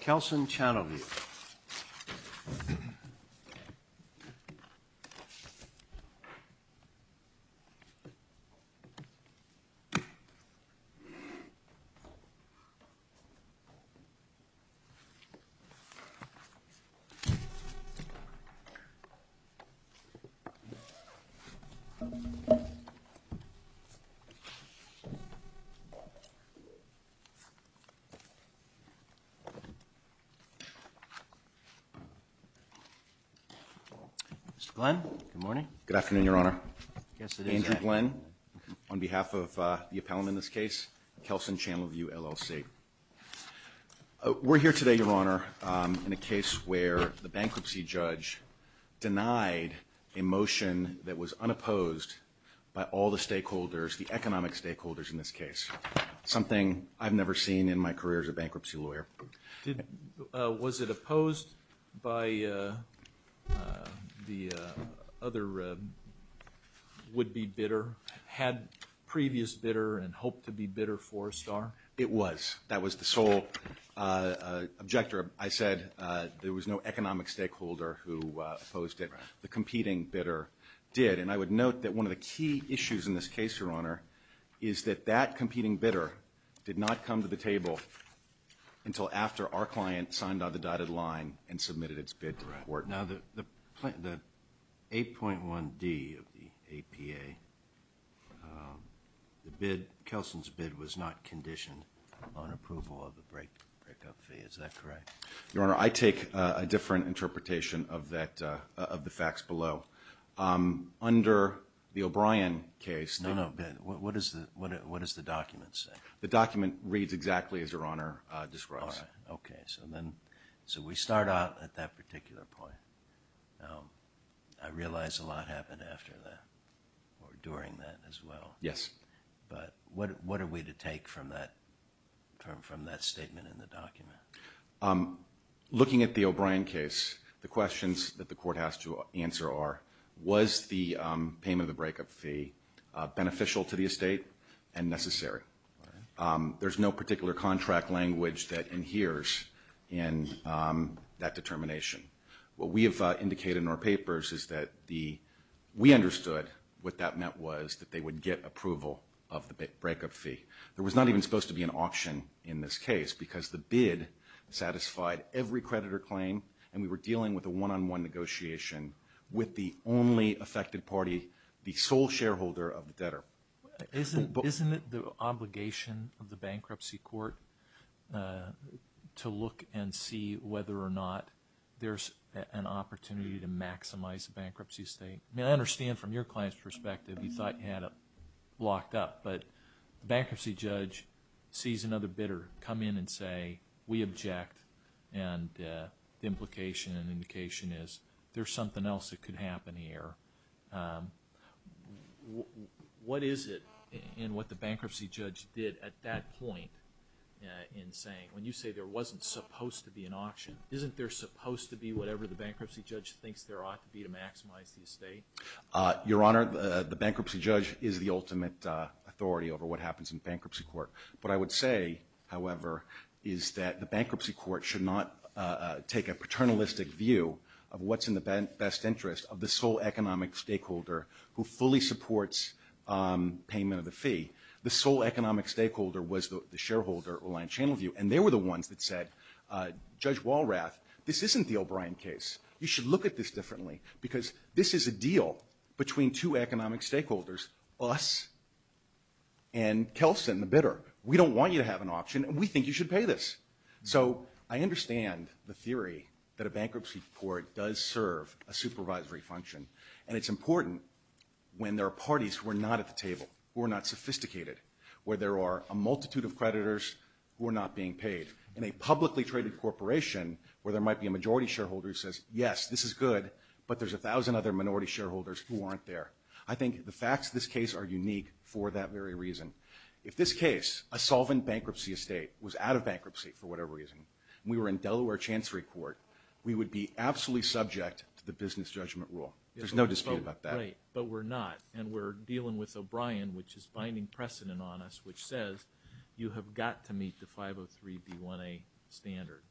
Kelsen Channel View LLC. We're here today, Your Honor, in a case where the bankruptcy judge denied a motion that was unopposed by all the stakeholders, the economic stakeholders in this case, something I've never seen in my career as a bankruptcy lawyer. Was it opposed by the other would-be bidder, had previous bidder and hoped to be bidder for STAR? It was. That was the sole objector. I said there was no economic stakeholder who opposed it. The competing bidder did. And I would note that one of the key issues in this case, Your Honor, is that that competing bidder did not come to the table until after our client signed on the dotted line and submitted its bid to the court. Now, the 8.1D of the APA, Kelsen's bid was not conditioned on approval of the break-up fee. Is that correct? Your Honor, I take a different interpretation of the facts below. Under the O'Brien case, No, no. What does the document say? The document reads exactly as Your Honor describes. All right. Okay. So then, so we start out at that particular point. I realize a lot happened after that or during that as well. Yes. But what are we to take from that statement in the document? Looking at the O'Brien case, the questions that the court has to answer are, was the payment of the break-up fee beneficial to the estate and necessary? There's no particular contract language that adheres in that determination. What we have indicated in our papers is that we understood what that meant was that they would get approval of the break-up fee. There was not even supposed to be an option in this case because the bid satisfied every creditor claim and we were dealing with a one-on-one negotiation with the only affected party, the sole shareholder of the debtor. Isn't it the obligation of the bankruptcy court to look and see whether or not there's an opportunity to maximize the bankruptcy estate? I mean, I understand from your client's perspective, you thought you had it locked up, but the bankruptcy judge sees another bidder come in and say, we object and the implication is there's something else that could happen here. What is it in what the bankruptcy judge did at that point in saying, when you say there wasn't supposed to be an option, isn't there supposed to be whatever the bankruptcy judge thinks there ought to be to maximize the estate? Your Honor, the bankruptcy judge is the ultimate authority over what happens in bankruptcy court. What I would say, however, is that the bankruptcy court should not take a paternalistic view of what's in the best interest of the sole economic stakeholder who fully supports payment of the fee. The sole economic stakeholder was the shareholder, Reliant Channel View, and they were the ones that said, Judge Walrath, this isn't the O'Brien case. You should look at this differently because this is a deal between two economic stakeholders, us and Kelsen, the bidder. We don't want you to have an option and we think you should pay this. So I understand the theory that a bankruptcy court does serve a supervisory function and it's important when there are parties who are not at the table, who are not sophisticated, where there are a multitude of creditors who are not being paid. In a publicly traded corporation where there might be a majority shareholder who says, yes, this is good, but there's a thousand other minority shareholders who aren't there. I think the facts of this case are unique for that very reason. If this case, a solvent bankruptcy estate, was out of bankruptcy for whatever reason, we were in Delaware Chancery Court, we would be absolutely subject to the business judgment rule. There's no dispute about that. But we're not and we're dealing with O'Brien, which is binding precedent on us, which says you have got to meet the 503B1A standard,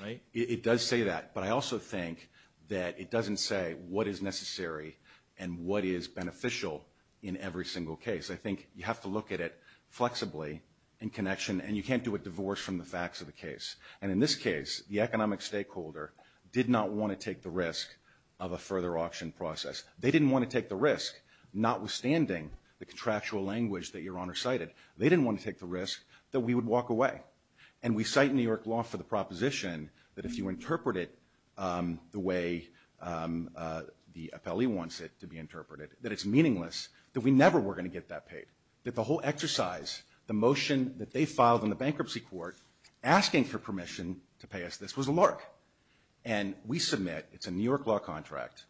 right? It does say that. But I also think that it doesn't say what is necessary and what is beneficial in every single case. I think you have to look at it flexibly in connection and you can't do a divorce from the facts of the case. And in this case, the economic stakeholder did not want to take the risk of a further auction process. They didn't want to take the risk, notwithstanding the contractual language that Your Honor cited. They didn't want to take the risk that we would walk away. And we cite New York law for the proposition that if you interpret it the way the appellee wants it to be interpreted, that it's meaningless, that we never were going to get that paid, that the whole exercise, the motion that they filed in the bankruptcy court asking for permission to pay us this was a lark. And we submit, it's a New York law contract,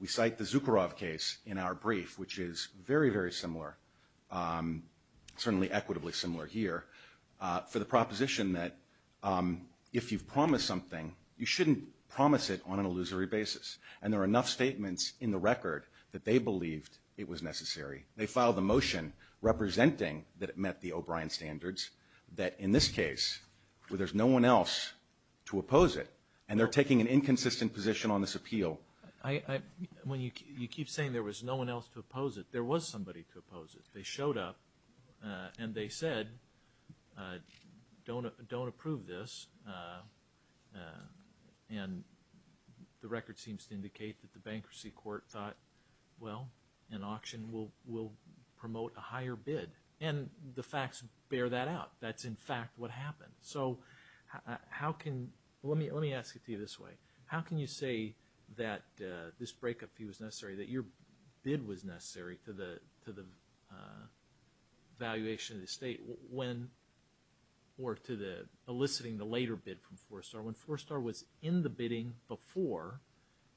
we cite the Zucorov case in our brief, which is very, very similar, certainly equitably similar here, for the proposition that if you've promised something, you shouldn't promise it on an illusory basis. And there are enough statements in the record that they believed it was necessary. They filed the motion representing that it met the O'Brien standards, that in this case, where there's no one else to oppose it, and they're taking an inconsistent position on this appeal. Well, when you keep saying there was no one else to oppose it, there was somebody to oppose it. They showed up, and they said, don't approve this, and the record seems to indicate that the bankruptcy court thought, well, an auction will promote a higher bid. And the facts bear that out. That's in fact what happened. So how can, let me ask it to you this way. How can you say that this breakup fee was necessary, that your bid was necessary to the valuation of the estate when, or to the eliciting the later bid from Four Star, when Four Star was in the bidding before,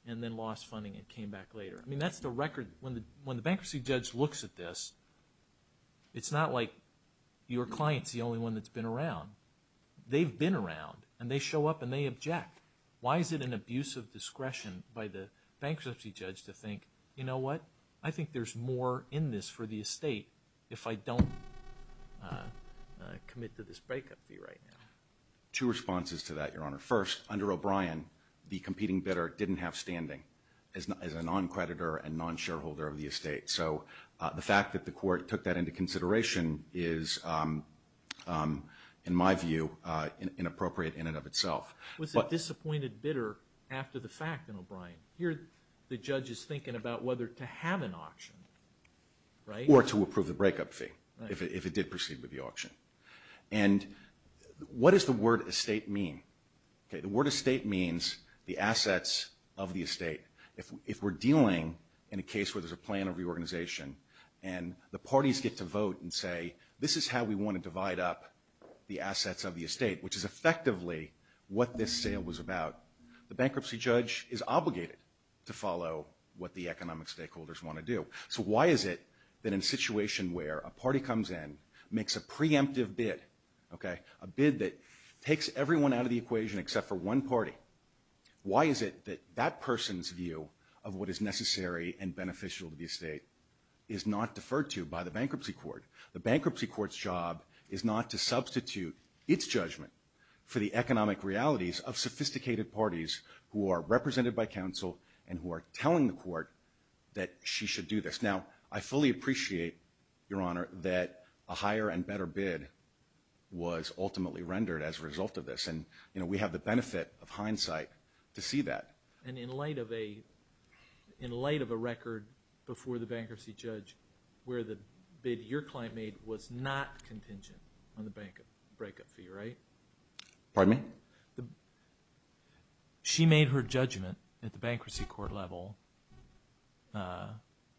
and then lost funding and came back later? I mean, that's the record. When the bankruptcy judge looks at this, it's not like your client's the only one that's been around. They've been around, and they show up and they object. Why is it an abuse of discretion by the bankruptcy judge to think, you know what, I think there's more in this for the estate if I don't commit to this breakup fee right now? Two responses to that, Your Honor. First, under O'Brien, the competing bidder didn't have standing as a non-creditor and non-shareholder of the estate. So the fact that the court took that into consideration is, in my view, inappropriate in and of itself. Was the disappointed bidder after the fact in O'Brien? Here the judge is thinking about whether to have an auction, right? Or to approve the breakup fee, if it did proceed with the auction. And what does the word estate mean? Okay, the word estate means the assets of the estate. If we're dealing in a case where there's a plan of reorganization, and the parties get to vote and say, this is how we want to divide up the assets of the estate, which is effectively what this sale was about, the bankruptcy judge is obligated to follow what the economic stakeholders want to do. So why is it that in a situation where a party comes in, makes a preemptive bid, a bid that takes everyone out of the equation except for one party, why is it that that person's view of what is necessary and beneficial to the estate is not deferred to by the bankruptcy court? The bankruptcy court's job is not to substitute its judgment for the economic realities of sophisticated parties who are represented by counsel and who are telling the court that she should do this. Now, I fully appreciate, Your Honor, that a higher and better bid was ultimately rendered as a result of this. And, you know, we have the benefit of hindsight to see that. And in light of a record before the bankruptcy judge where the bid your client made was not contingent on the breakup fee, right? Pardon me? She made her judgment at the bankruptcy court level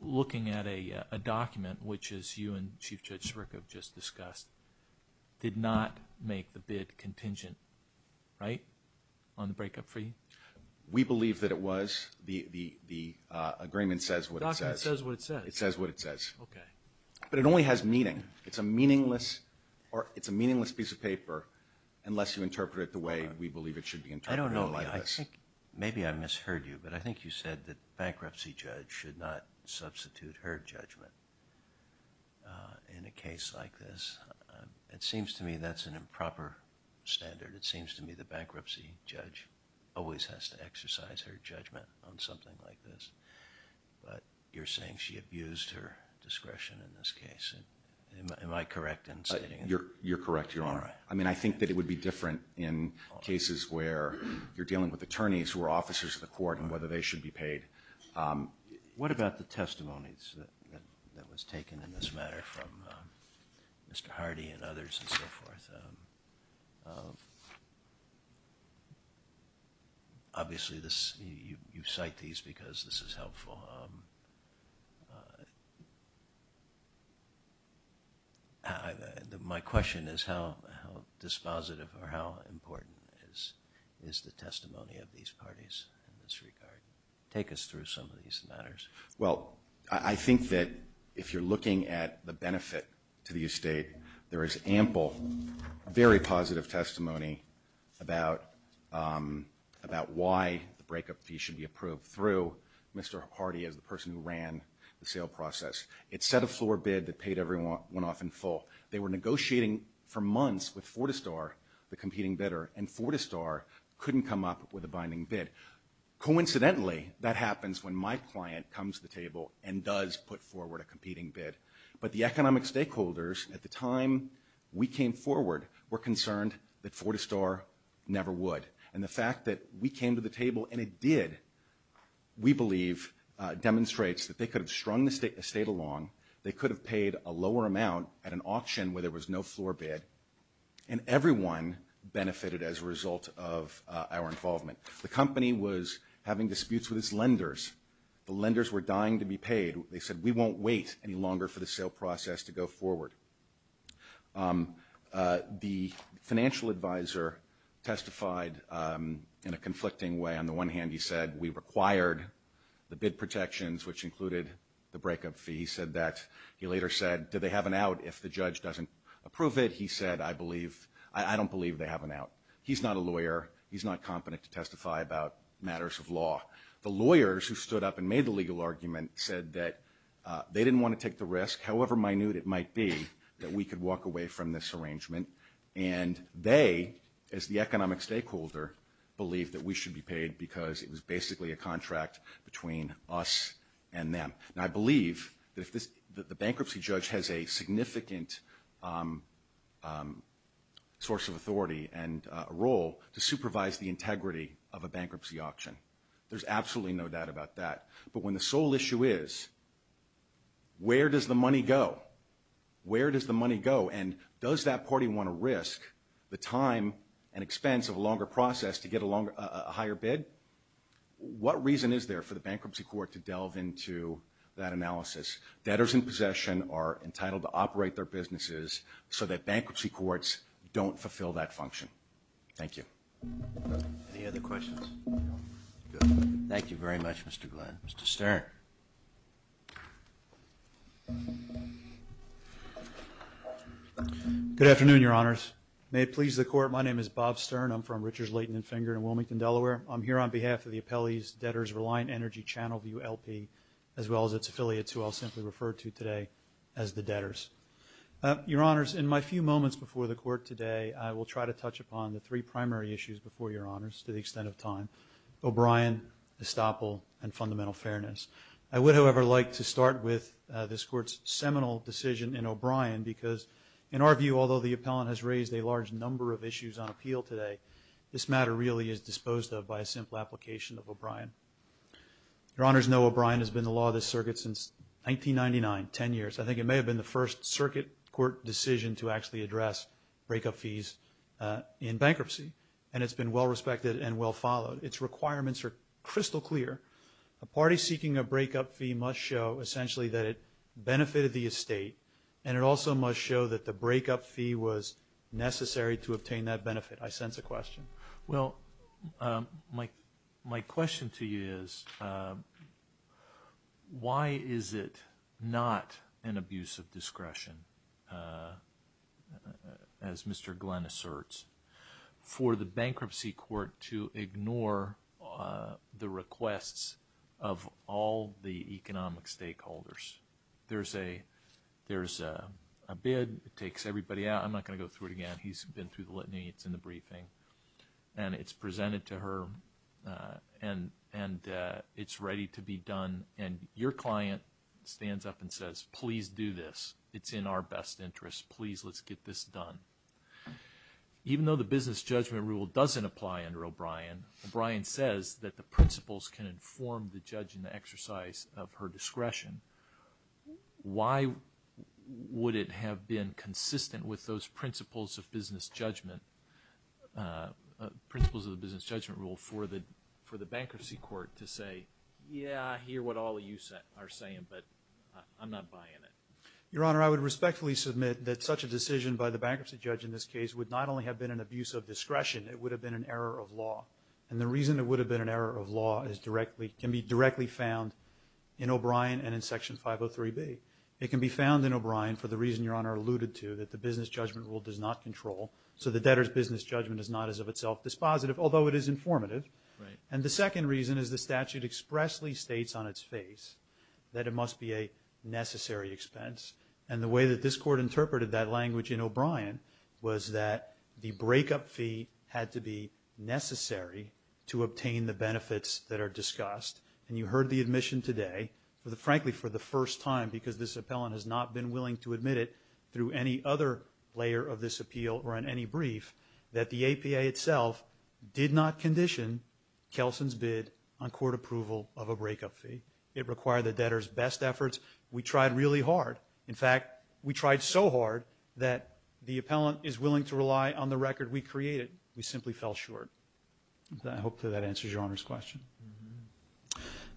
looking at a document, which, as you and Chief Judge Zyrick have just discussed, did not make the bid contingent, right, on the breakup fee? We believe that it was. The agreement says what it says. The document says what it says? It says what it says. Okay. But it only has meaning. It's a meaningless piece of paper unless you interpret it the way we believe it should be interpreted like this. I don't know. Maybe I misheard you, but I think you said that the bankruptcy judge should not substitute her judgment in a case like this. It seems to me that's an improper standard. It seems to me the bankruptcy judge always has to exercise her judgment on something like this. But you're saying she abused her discretion in this case. Am I correct in stating that? You're correct, Your Honor. I mean, I think that it would be different in cases where you're dealing with attorneys who are officers of the court and whether they should be paid. What about the testimonies that was taken in this matter from Mr. Hardy and others and others? Obviously, you cite these because this is helpful. My question is how dispositive or how important is the testimony of these parties in this regard? Take us through some of these matters. Well, I think that if you're looking at the benefit to the estate, there is ample, very positive testimony about why the breakup fee should be approved through Mr. Hardy as the person who ran the sale process. It set a floor bid that paid everyone off in full. They were negotiating for months with Fortistar, the competing bidder, and Fortistar couldn't come up with a binding bid. Coincidentally, that happens when my client comes to the table and does put forward a competing bid. But the economic stakeholders at the time we came forward were concerned that Fortistar never would. And the fact that we came to the table and it did, we believe, demonstrates that they could have strung the estate along, they could have paid a lower amount at an auction where there was no floor bid, and everyone benefited as a result of our involvement. The company was having disputes with its lenders. The lenders were dying to be paid. They said, we won't wait any longer for the sale process to go forward. The financial advisor testified in a conflicting way. On the one hand, he said, we required the bid protections, which included the breakup fee. He said that. He later said, do they have an out if the judge doesn't approve it? He said, I believe, I don't believe they have an out. He's not a lawyer. He's not competent to testify about matters of law. The lawyers who stood up and made the legal argument said that they didn't want to take the risk, however minute it might be, that we could walk away from this arrangement. And they, as the economic stakeholder, believed that we should be paid because it was basically a contract between us and them. Now, I believe that the bankruptcy judge has a significant source of authority and a role to supervise the integrity of a bankruptcy auction. There's absolutely no doubt about that. But when the sole issue is, where does the money go? Where does the money go? And does that party want to risk the time and expense of a longer process to get a higher bid? What reason is there for the bankruptcy court to delve into that analysis? Debtors in possession are entitled to operate their businesses so that bankruptcy courts don't fulfill that function. Thank you. Any other questions? Thank you very much, Mr. Glenn. Mr. Stern. Good afternoon, Your Honors. May it please the Court, my name is Bob Stern. I'm from Richards, Leighton, and Finger in Wilmington, Delaware. I'm here on behalf of the Appellee's Debtors Reliant Energy Channel View LP, as well as its affiliates, who I'll simply refer to today as the debtors. Your Honors, in my few moments before the Court today, I will try to touch upon the three primary issues before Your Honors, to the extent of time. O'Brien, estoppel, and fundamental fairness. I would, however, like to start with this Court's seminal decision in O'Brien, because in our view, although the appellant has raised a large number of issues on appeal today, this matter really is disposed of by a simple application of O'Brien. Your Honors know O'Brien has been the law of this circuit since 1999, ten years. I think it may have been the first circuit court decision to actually address breakup fees in bankruptcy, and it's been well-respected and well-followed. Its requirements are crystal clear. A party seeking a breakup fee must show, essentially, that it benefited the estate, and it also must show that the breakup fee was necessary to obtain that benefit. I sense a question. Well, my question to you is, why is it not an abuse of discretion, as Mr. Glenn asserts, for the Bankruptcy Court to ignore the requests of all the economic stakeholders? There's a bid, it takes everybody out. I'm not going to go through it again. He's been through the litany. It's in the briefing, and it's presented to her, and it's ready to be done. And your client stands up and says, please do this. It's in our best interest. Please, let's get this done. Even though the business judgment rule doesn't apply under O'Brien, O'Brien says that the principles can inform the judge in the exercise of her discretion. Why would it have been consistent with those principles of business judgment, principles of the business judgment rule for the Bankruptcy Court to say, yeah, I hear what all of you are saying, but I'm not buying it? Your Honor, I would respectfully submit that such a decision by the bankruptcy judge in this case would not only have been an abuse of discretion, it would have been an error of law. And the reason it would have been an error of law can be directly found in O'Brien and in Section 503B. It can be found in O'Brien for the reason your Honor alluded to, that the business judgment rule does not control, so the debtor's business judgment is not as of itself dispositive, although it is informative. And the second reason is the statute expressly states on its face that it must be a necessary expense. And the way that this Court interpreted that language in O'Brien was that the benefits that are discussed, and you heard the admission today, frankly for the first time because this appellant has not been willing to admit it through any other layer of this appeal or in any brief, that the APA itself did not condition Kelson's bid on court approval of a breakup fee. It required the debtor's best efforts. We tried really hard. In fact, we tried so hard that the appellant is willing to rely on the record that we created. We simply fell short. I hope that answers your Honor's question.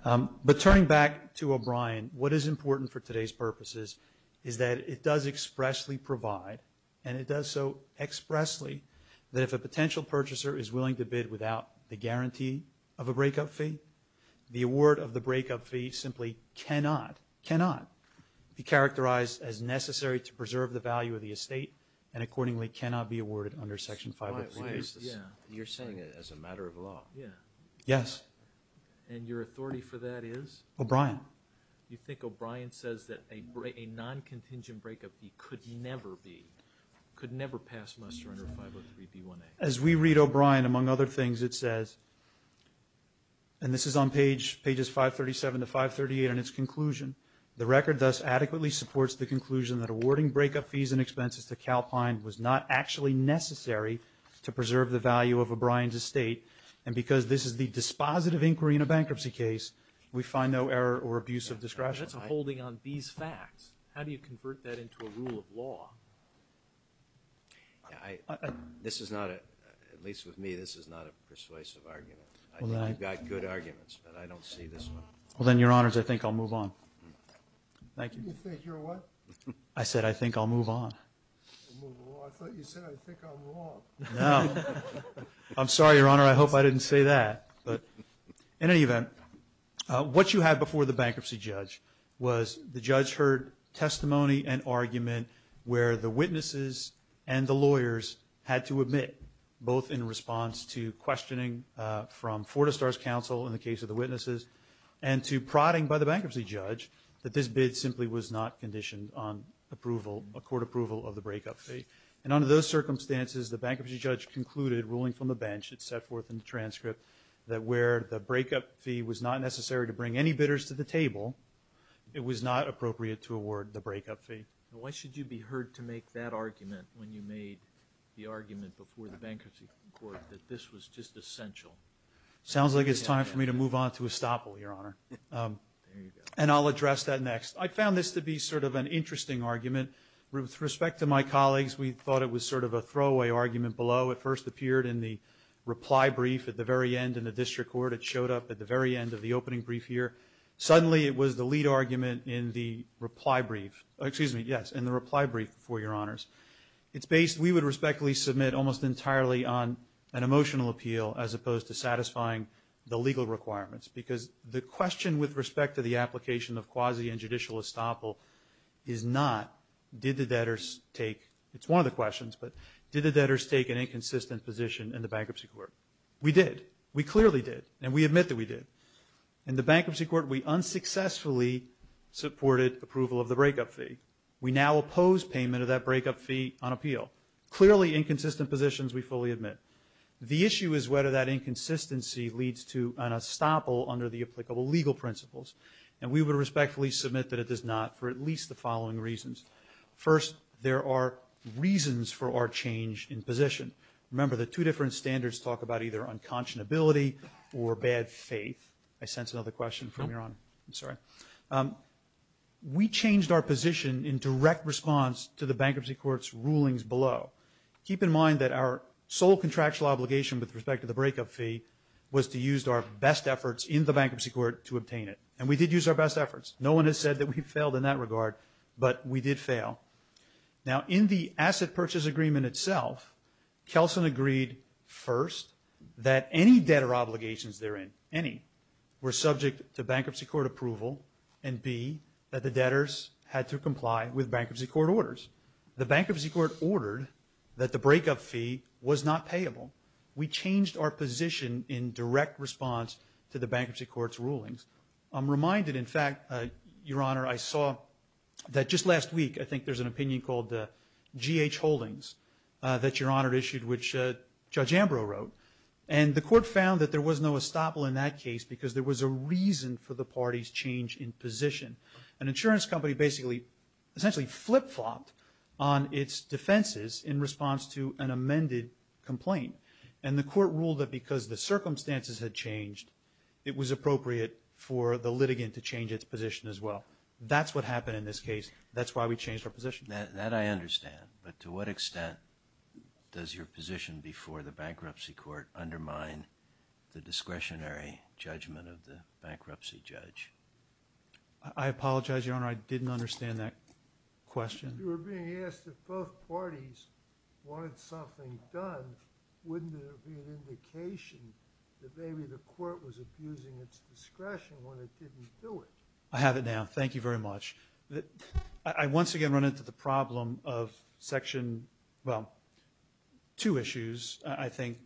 But turning back to O'Brien, what is important for today's purposes is that it does expressly provide, and it does so expressly, that if a potential purchaser is willing to bid without the guarantee of a breakup fee, the award of the breakup fee simply cannot, cannot be characterized as necessary to preserve the value of the estate, and accordingly cannot be awarded under Section 503B. You're saying it as a matter of law. Yes. And your authority for that is? O'Brien. You think O'Brien says that a non-contingent breakup fee could never be, could never pass muster under 503B1A? As we read O'Brien, among other things, it says, and this is on pages 537 to 538 in its conclusion, the record thus adequately supports the conclusion that awarding breakup fees and expenses to Calpine was not actually necessary to preserve the value of O'Brien's estate, and because this is the dispositive inquiry in a bankruptcy case, we find no error or abuse of discretion. That's a holding on these facts. How do you convert that into a rule of law? This is not a, at least with me, this is not a persuasive argument. I think you've got good arguments, but I don't see this one. Well, then, Your Honors, I think I'll move on. Thank you. You said your what? I said I think I'll move on. Well, I thought you said I think I'll move on. No. I'm sorry, Your Honor. I hope I didn't say that. But in any event, what you had before the bankruptcy judge was the judge heard testimony and argument where the witnesses and the lawyers had to admit, both in response to questioning from Fortistar's counsel in the case of the witnesses and to prodding by the bankruptcy judge that this bid simply was not conditioned on approval, a court approval of the breakup fee. And under those circumstances, the bankruptcy judge concluded, ruling from the bench, it's set forth in the transcript, that where the breakup fee was not necessary to bring any bidders to the table, it was not appropriate to award the breakup fee. Why should you be heard to make that argument when you made the argument before the bankruptcy court that this was just essential? Sounds like it's time for me to move on to estoppel, Your Honor. There you go. And I'll address that next. I found this to be sort of an interesting argument. With respect to my colleagues, we thought it was sort of a throwaway argument below. It first appeared in the reply brief at the very end in the district court. It showed up at the very end of the opening brief here. Suddenly, it was the lead argument in the reply brief. Excuse me, yes, in the reply brief, for Your Honors. It's based, we would respectfully submit, almost entirely on an emotional appeal as opposed to satisfying the legal requirements because the question with respect to the application of quasi and judicial estoppel is not did the debtors take, it's one of the questions, but did the debtors take an inconsistent position in the bankruptcy court? We did. We clearly did, and we admit that we did. In the bankruptcy court, we unsuccessfully supported approval of the breakup fee. We now oppose payment of that breakup fee on appeal. Clearly inconsistent positions, we fully admit. The issue is whether that inconsistency leads to an estoppel under the applicable legal principles. And we would respectfully submit that it does not for at least the following reasons. First, there are reasons for our change in position. Remember, the two different standards talk about either unconscionability or bad faith. I sense another question from Your Honor. I'm sorry. We changed our position in direct response to the bankruptcy court's rulings below. Keep in mind that our sole contractual obligation with respect to the breakup fee was to use our best efforts in the bankruptcy court to obtain it. And we did use our best efforts. No one has said that we failed in that regard, but we did fail. Now, in the asset purchase agreement itself, Kelson agreed first that any debtor obligations therein, any, were subject to bankruptcy court approval and, B, that the debtors had to comply with bankruptcy court orders. The bankruptcy court ordered that the breakup fee was not payable. We changed our position in direct response to the bankruptcy court's rulings. I'm reminded, in fact, Your Honor, I saw that just last week I think there's an opinion called G.H. Holdings that Your Honor issued, which Judge Ambrose wrote. And the court found that there was no estoppel in that case because there was a reason for the party's change in position. An insurance company basically essentially flip-flopped on its defenses in response to an amended complaint. And the court ruled that because the circumstances had changed, it was appropriate for the litigant to change its position as well. That's what happened in this case. That's why we changed our position. That I understand. But to what extent does your position before the bankruptcy court undermine the discretionary judgment of the bankruptcy judge? I apologize, Your Honor. I didn't understand that question. If you were being asked if both parties wanted something done, wouldn't there be an indication that maybe the court was abusing its discretion when it didn't do it? I have it now. Thank you very much. I once again run into the problem of Section, well, two issues, I think.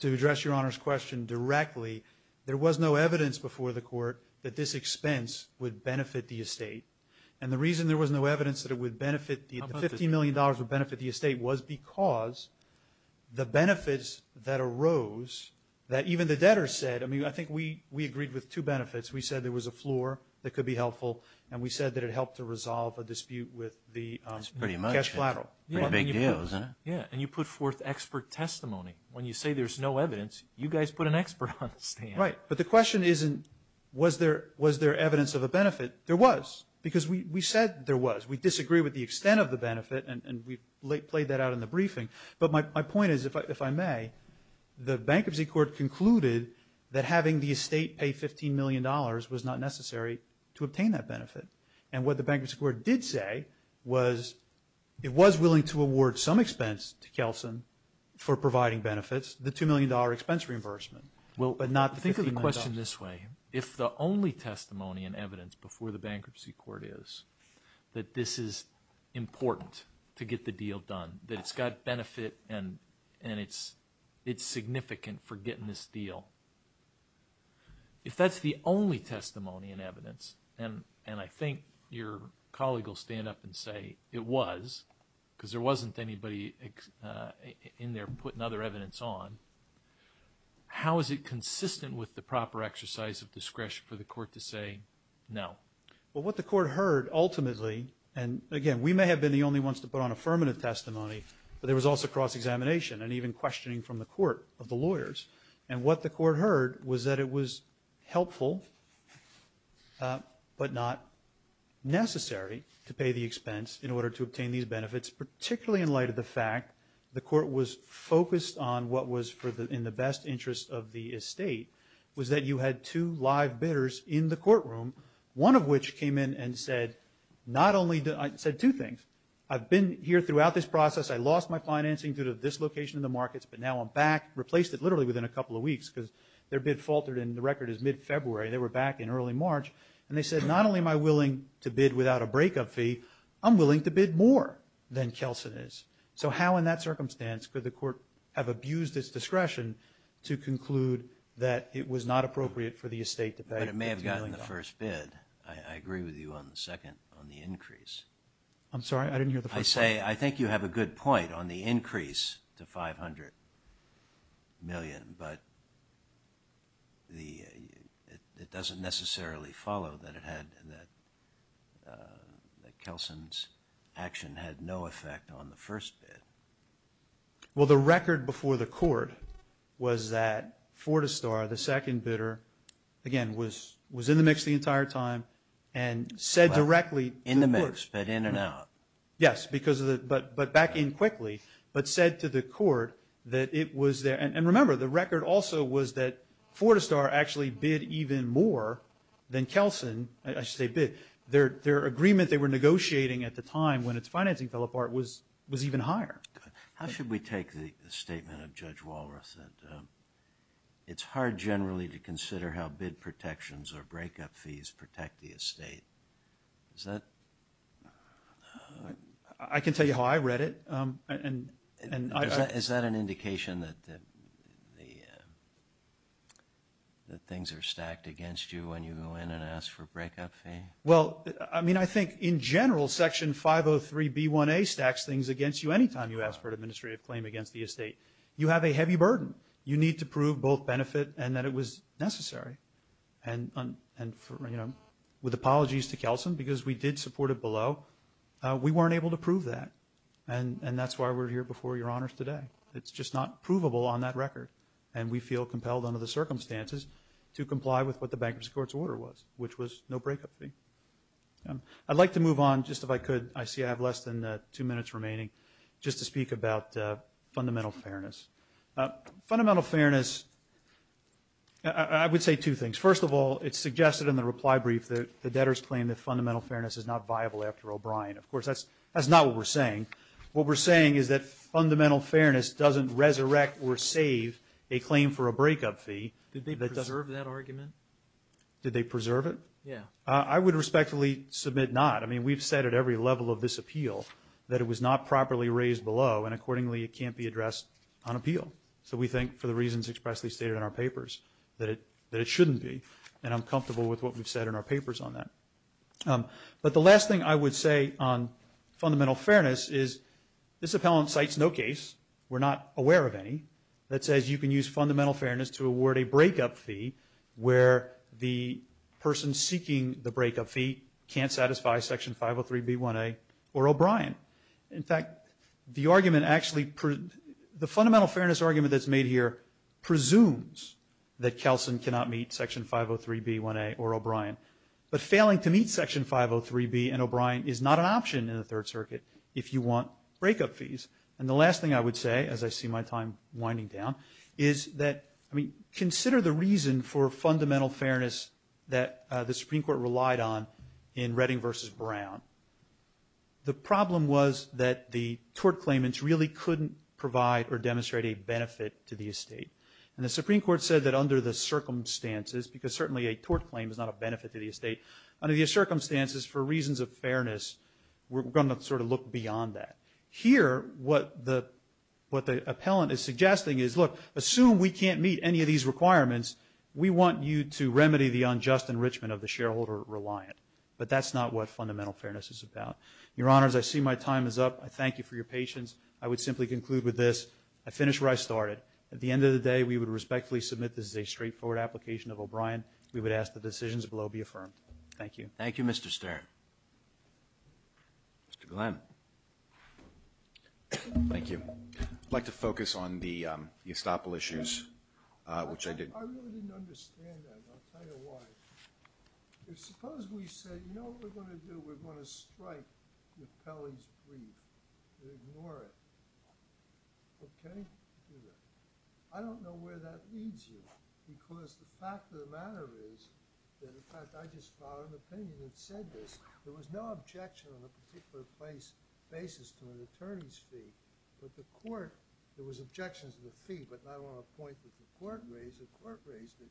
To address Your Honor's question directly, there was no evidence before the court that this expense would benefit the estate. And the reason there was no evidence that it would benefit, the $15 million would benefit the estate was because the benefits that arose, that even the debtors said, I mean, I think we agreed with two benefits. We said there was a floor that could be helpful, and we said that it helped to resolve a dispute with the cash collateral. That's pretty much it. Pretty big deals, isn't it? Yeah. And you put forth expert testimony. When you say there's no evidence, you guys put an expert on the stand. Right. But the question isn't was there evidence of a benefit? There was. Because we said there was. We disagree with the extent of the benefit, and we played that out in the briefing. But my point is, if I may, the Bankruptcy Court concluded that having the estate pay $15 million was not necessary to obtain that benefit. And what the Bankruptcy Court did say was it was willing to award some expense to Kelson for providing benefits, the $2 million expense reimbursement, but not the $15 million. Think of the question this way. If the only testimony and evidence before the Bankruptcy Court is that this is important to get the deal done, that it's got benefit and it's significant for getting this deal, if that's the only testimony and evidence, and I think your colleague will stand up and say it was because there wasn't anybody in there putting other evidence on, how is it consistent with the proper exercise of discretion for the court to say no? Well, what the court heard ultimately, and again, we may have been the only ones to put on affirmative testimony, but there was also cross-examination and even questioning from the court of the lawyers. And what the court heard was that it was helpful but not necessary to pay the expense in order to obtain these benefits, particularly in light of the fact the court was focused on what was in the best interest of the estate, was that you had two live bidders in the courtroom, one of which came in and said not only, said two things, I've been here throughout this process, I lost my financing due to dislocation in the markets, but now I'm back, replaced it literally within a couple of weeks because their bid faltered and the record is mid-February, they were back in early March, and they said not only am I willing to bid without a breakup fee, I'm willing to bid more than Kelsen is. So how in that circumstance could the court have abused its discretion to conclude that it was not appropriate for the estate to pay? But it may have gotten the first bid. I agree with you on the second, on the increase. I'm sorry? I didn't hear the first one. I say I think you have a good point on the increase to $500 million, but it doesn't necessarily follow that it had, that Kelsen's action had no effect on the first bid. Well, the record before the court was that Fortistar, the second bidder, again, was in the mix the entire time and said directly to the court. In the mix, but in and out. Yes, but back in quickly, but said to the court that it was there. And remember, the record also was that Fortistar actually bid even more than Kelsen. I should say bid. Their agreement they were negotiating at the time when its financing fell apart was even higher. How should we take the statement of Judge Walroth that it's hard generally to consider how bid protections or breakup fees protect the estate? Is that? I can tell you how I read it. Is that an indication that things are stacked against you when you go in and ask for a breakup fee? Well, I mean, I think in general Section 503B1A stacks things against you anytime you ask for an administrative claim against the estate. You have a heavy burden. You need to prove both benefit and that it was necessary. And with apologies to Kelsen, because we did support it below, we weren't able to prove that. And that's why we're here before your honors today. It's just not provable on that record. And we feel compelled under the circumstances to comply with what the Bankruptcy Court's order was, which was no breakup fee. I'd like to move on just if I could. I see I have less than two minutes remaining just to speak about fundamental fairness. Fundamental fairness, I would say two things. First of all, it's suggested in the reply brief that the debtors claim that fundamental fairness is not viable after O'Brien. Of course, that's not what we're saying. What we're saying is that fundamental fairness doesn't resurrect or save a claim for a breakup fee. Did they preserve that argument? Did they preserve it? Yeah. I would respectfully submit not. I mean, we've said at every level of this appeal that it was not properly raised below, and accordingly it can't be addressed on appeal. So we think, for the reasons expressly stated in our papers, that it shouldn't be. And I'm comfortable with what we've said in our papers on that. But the last thing I would say on fundamental fairness is this appellant cites no case, we're not aware of any, that says you can use fundamental fairness to award a breakup fee where the person seeking the breakup fee can't satisfy Section 503B1A or O'Brien. In fact, the argument actually, the fundamental fairness argument that's made here presumes that Kelson cannot meet Section 503B1A or O'Brien. But failing to meet Section 503B and O'Brien is not an option in the Third Circuit if you want breakup fees. And the last thing I would say, as I see my time winding down, is that, I mean, consider the reason for fundamental fairness that the Supreme Court relied on in Redding versus Brown. The problem was that the tort claimants really couldn't provide or demonstrate a benefit to the estate. And the Supreme Court said that under the circumstances, because certainly a tort claim is not a benefit to the estate, under the circumstances for reasons of fairness, we're going to sort of look beyond that. Here, what the appellant is suggesting is, look, assume we can't meet any of these requirements, we want you to remedy the unjust enrichment of the shareholder reliant. But that's not what fundamental fairness is about. Your Honors, I see my time is up. I thank you for your patience. I would simply conclude with this. I finished where I started. At the end of the day, we would respectfully submit this is a straightforward application of O'Brien. We would ask the decisions below be affirmed. Thank you. Thank you, Mr. Stern. Mr. Glenn. Thank you. I'd like to focus on the estoppel issues, which I did. I really didn't understand that, and I'll tell you why. Suppose we said, you know what we're going to do? We're going to strike the Pelley's brief and ignore it. Okay? I don't know where that leads you. Because the fact of the matter is, that in fact, I just filed an opinion that said this. There was no objection on a particular place, basis to an attorney's fee. But the court, there was objections to the fee, but not on a point that the court raised. The court raised it.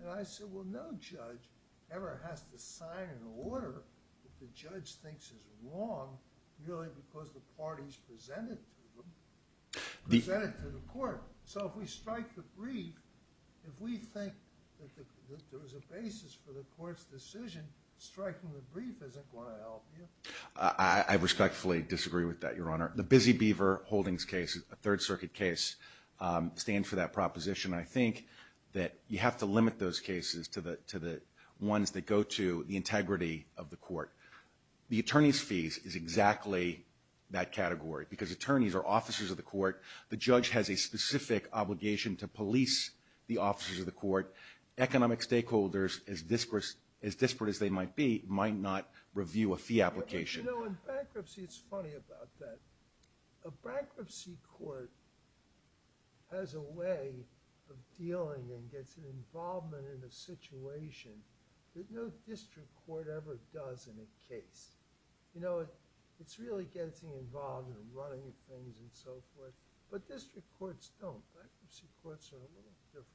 And I said, well, no judge ever has to sign an order that the judge thinks is wrong, really because the parties presented to them. So if we strike the brief, if we think that there was a basis for the court's decision, striking the brief isn't going to help you. I respectfully disagree with that, Your Honor. The Busy Beaver Holdings case, a Third Circuit case, stands for that proposition. I think that you have to limit those cases to the ones that go to the integrity of the court. The attorney's fees is exactly that category, because attorneys are officers of the court. The judge has a specific obligation to police the officers of the court. Economic stakeholders, as disparate as they might be, might not review a fee application. You know, in bankruptcy, it's funny about that. A bankruptcy court has a way of dealing and gets an involvement in a situation that no district court ever does in a case. You know, it's really getting involved and running things and so forth, but district courts don't. Bankruptcy courts are a little different.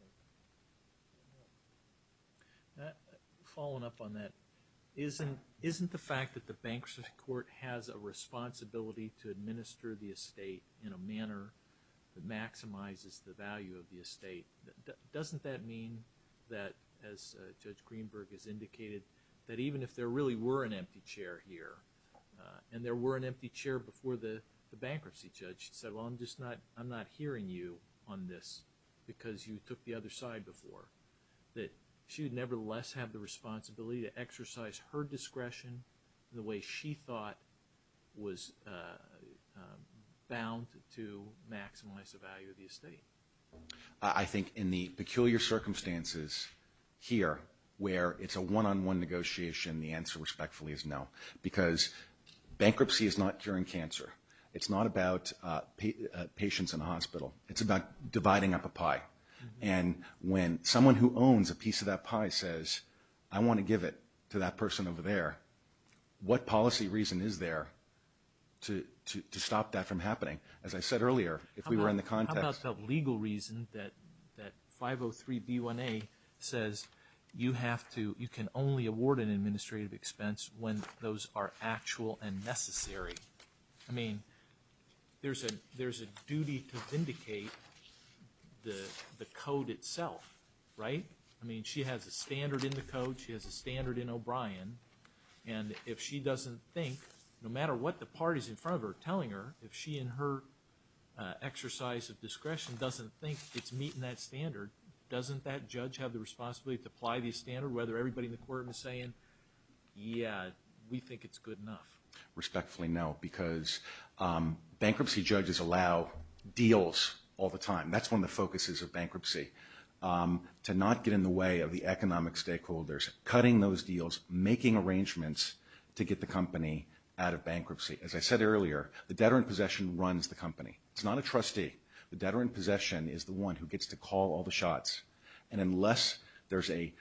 Following up on that, isn't the fact that the bankruptcy court has a responsibility to administer the estate in a manner that maximizes the value of the estate, doesn't that mean that, as Judge Greenberg has indicated, that even if there really were an empty chair here and there were an empty chair before the bankruptcy judge, she'd say, well, I'm just not, I'm not hearing you on this because you took the other side before, that she would nevertheless have the responsibility to exercise her discretion the way she thought was bound to maximize the value of the estate? I think in the peculiar circumstances here, where it's a one-on-one negotiation, the answer respectfully is no, because bankruptcy is not curing cancer. It's not about patients in the hospital. It's about dividing up a pie. And when someone who owns a piece of that pie says, I want to give it to that person over there, what policy reason is there to stop that from happening? As I said earlier, if we were in the context. It's not about legal reason that 503B1A says you have to, you can only award an administrative expense when those are actual and necessary. I mean, there's a duty to vindicate the code itself, right? I mean, she has a standard in the code. She has a standard in O'Brien. And if she doesn't think, no matter what the parties in front of her are telling her, if she and her exercise of discretion doesn't think it's meeting that standard, doesn't that judge have the responsibility to apply the standard, whether everybody in the court was saying, yeah, we think it's good enough. Respectfully, no, because bankruptcy judges allow deals all the time. That's one of the focuses of bankruptcy, to not get in the way of the economic stakeholders, cutting those deals, making arrangements to get the company out of bankruptcy. As I said earlier, the debtor in possession runs the company. It's not a trustee. The debtor in possession is the one who gets to call all the shots. And unless there's a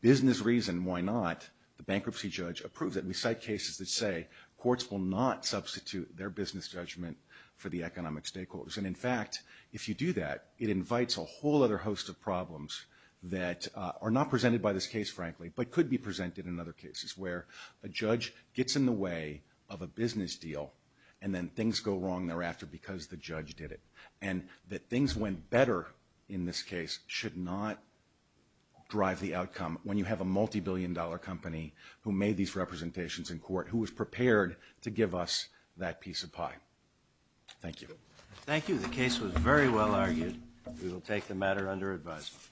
business reason why not, the bankruptcy judge approves it. We cite cases that say courts will not substitute their business judgment for the economic stakeholders. And in fact, if you do that, it invites a whole other host of problems that are not presented by this case, frankly, but could be presented in other cases where a judge gets in the way of a company and then things go wrong thereafter because the judge did it. And that things went better in this case should not drive the outcome. When you have a multibillion dollar company who made these representations in court, who was prepared to give us that piece of pie. Thank you. Thank you. The case was very well argued. We will take the matter under advisement.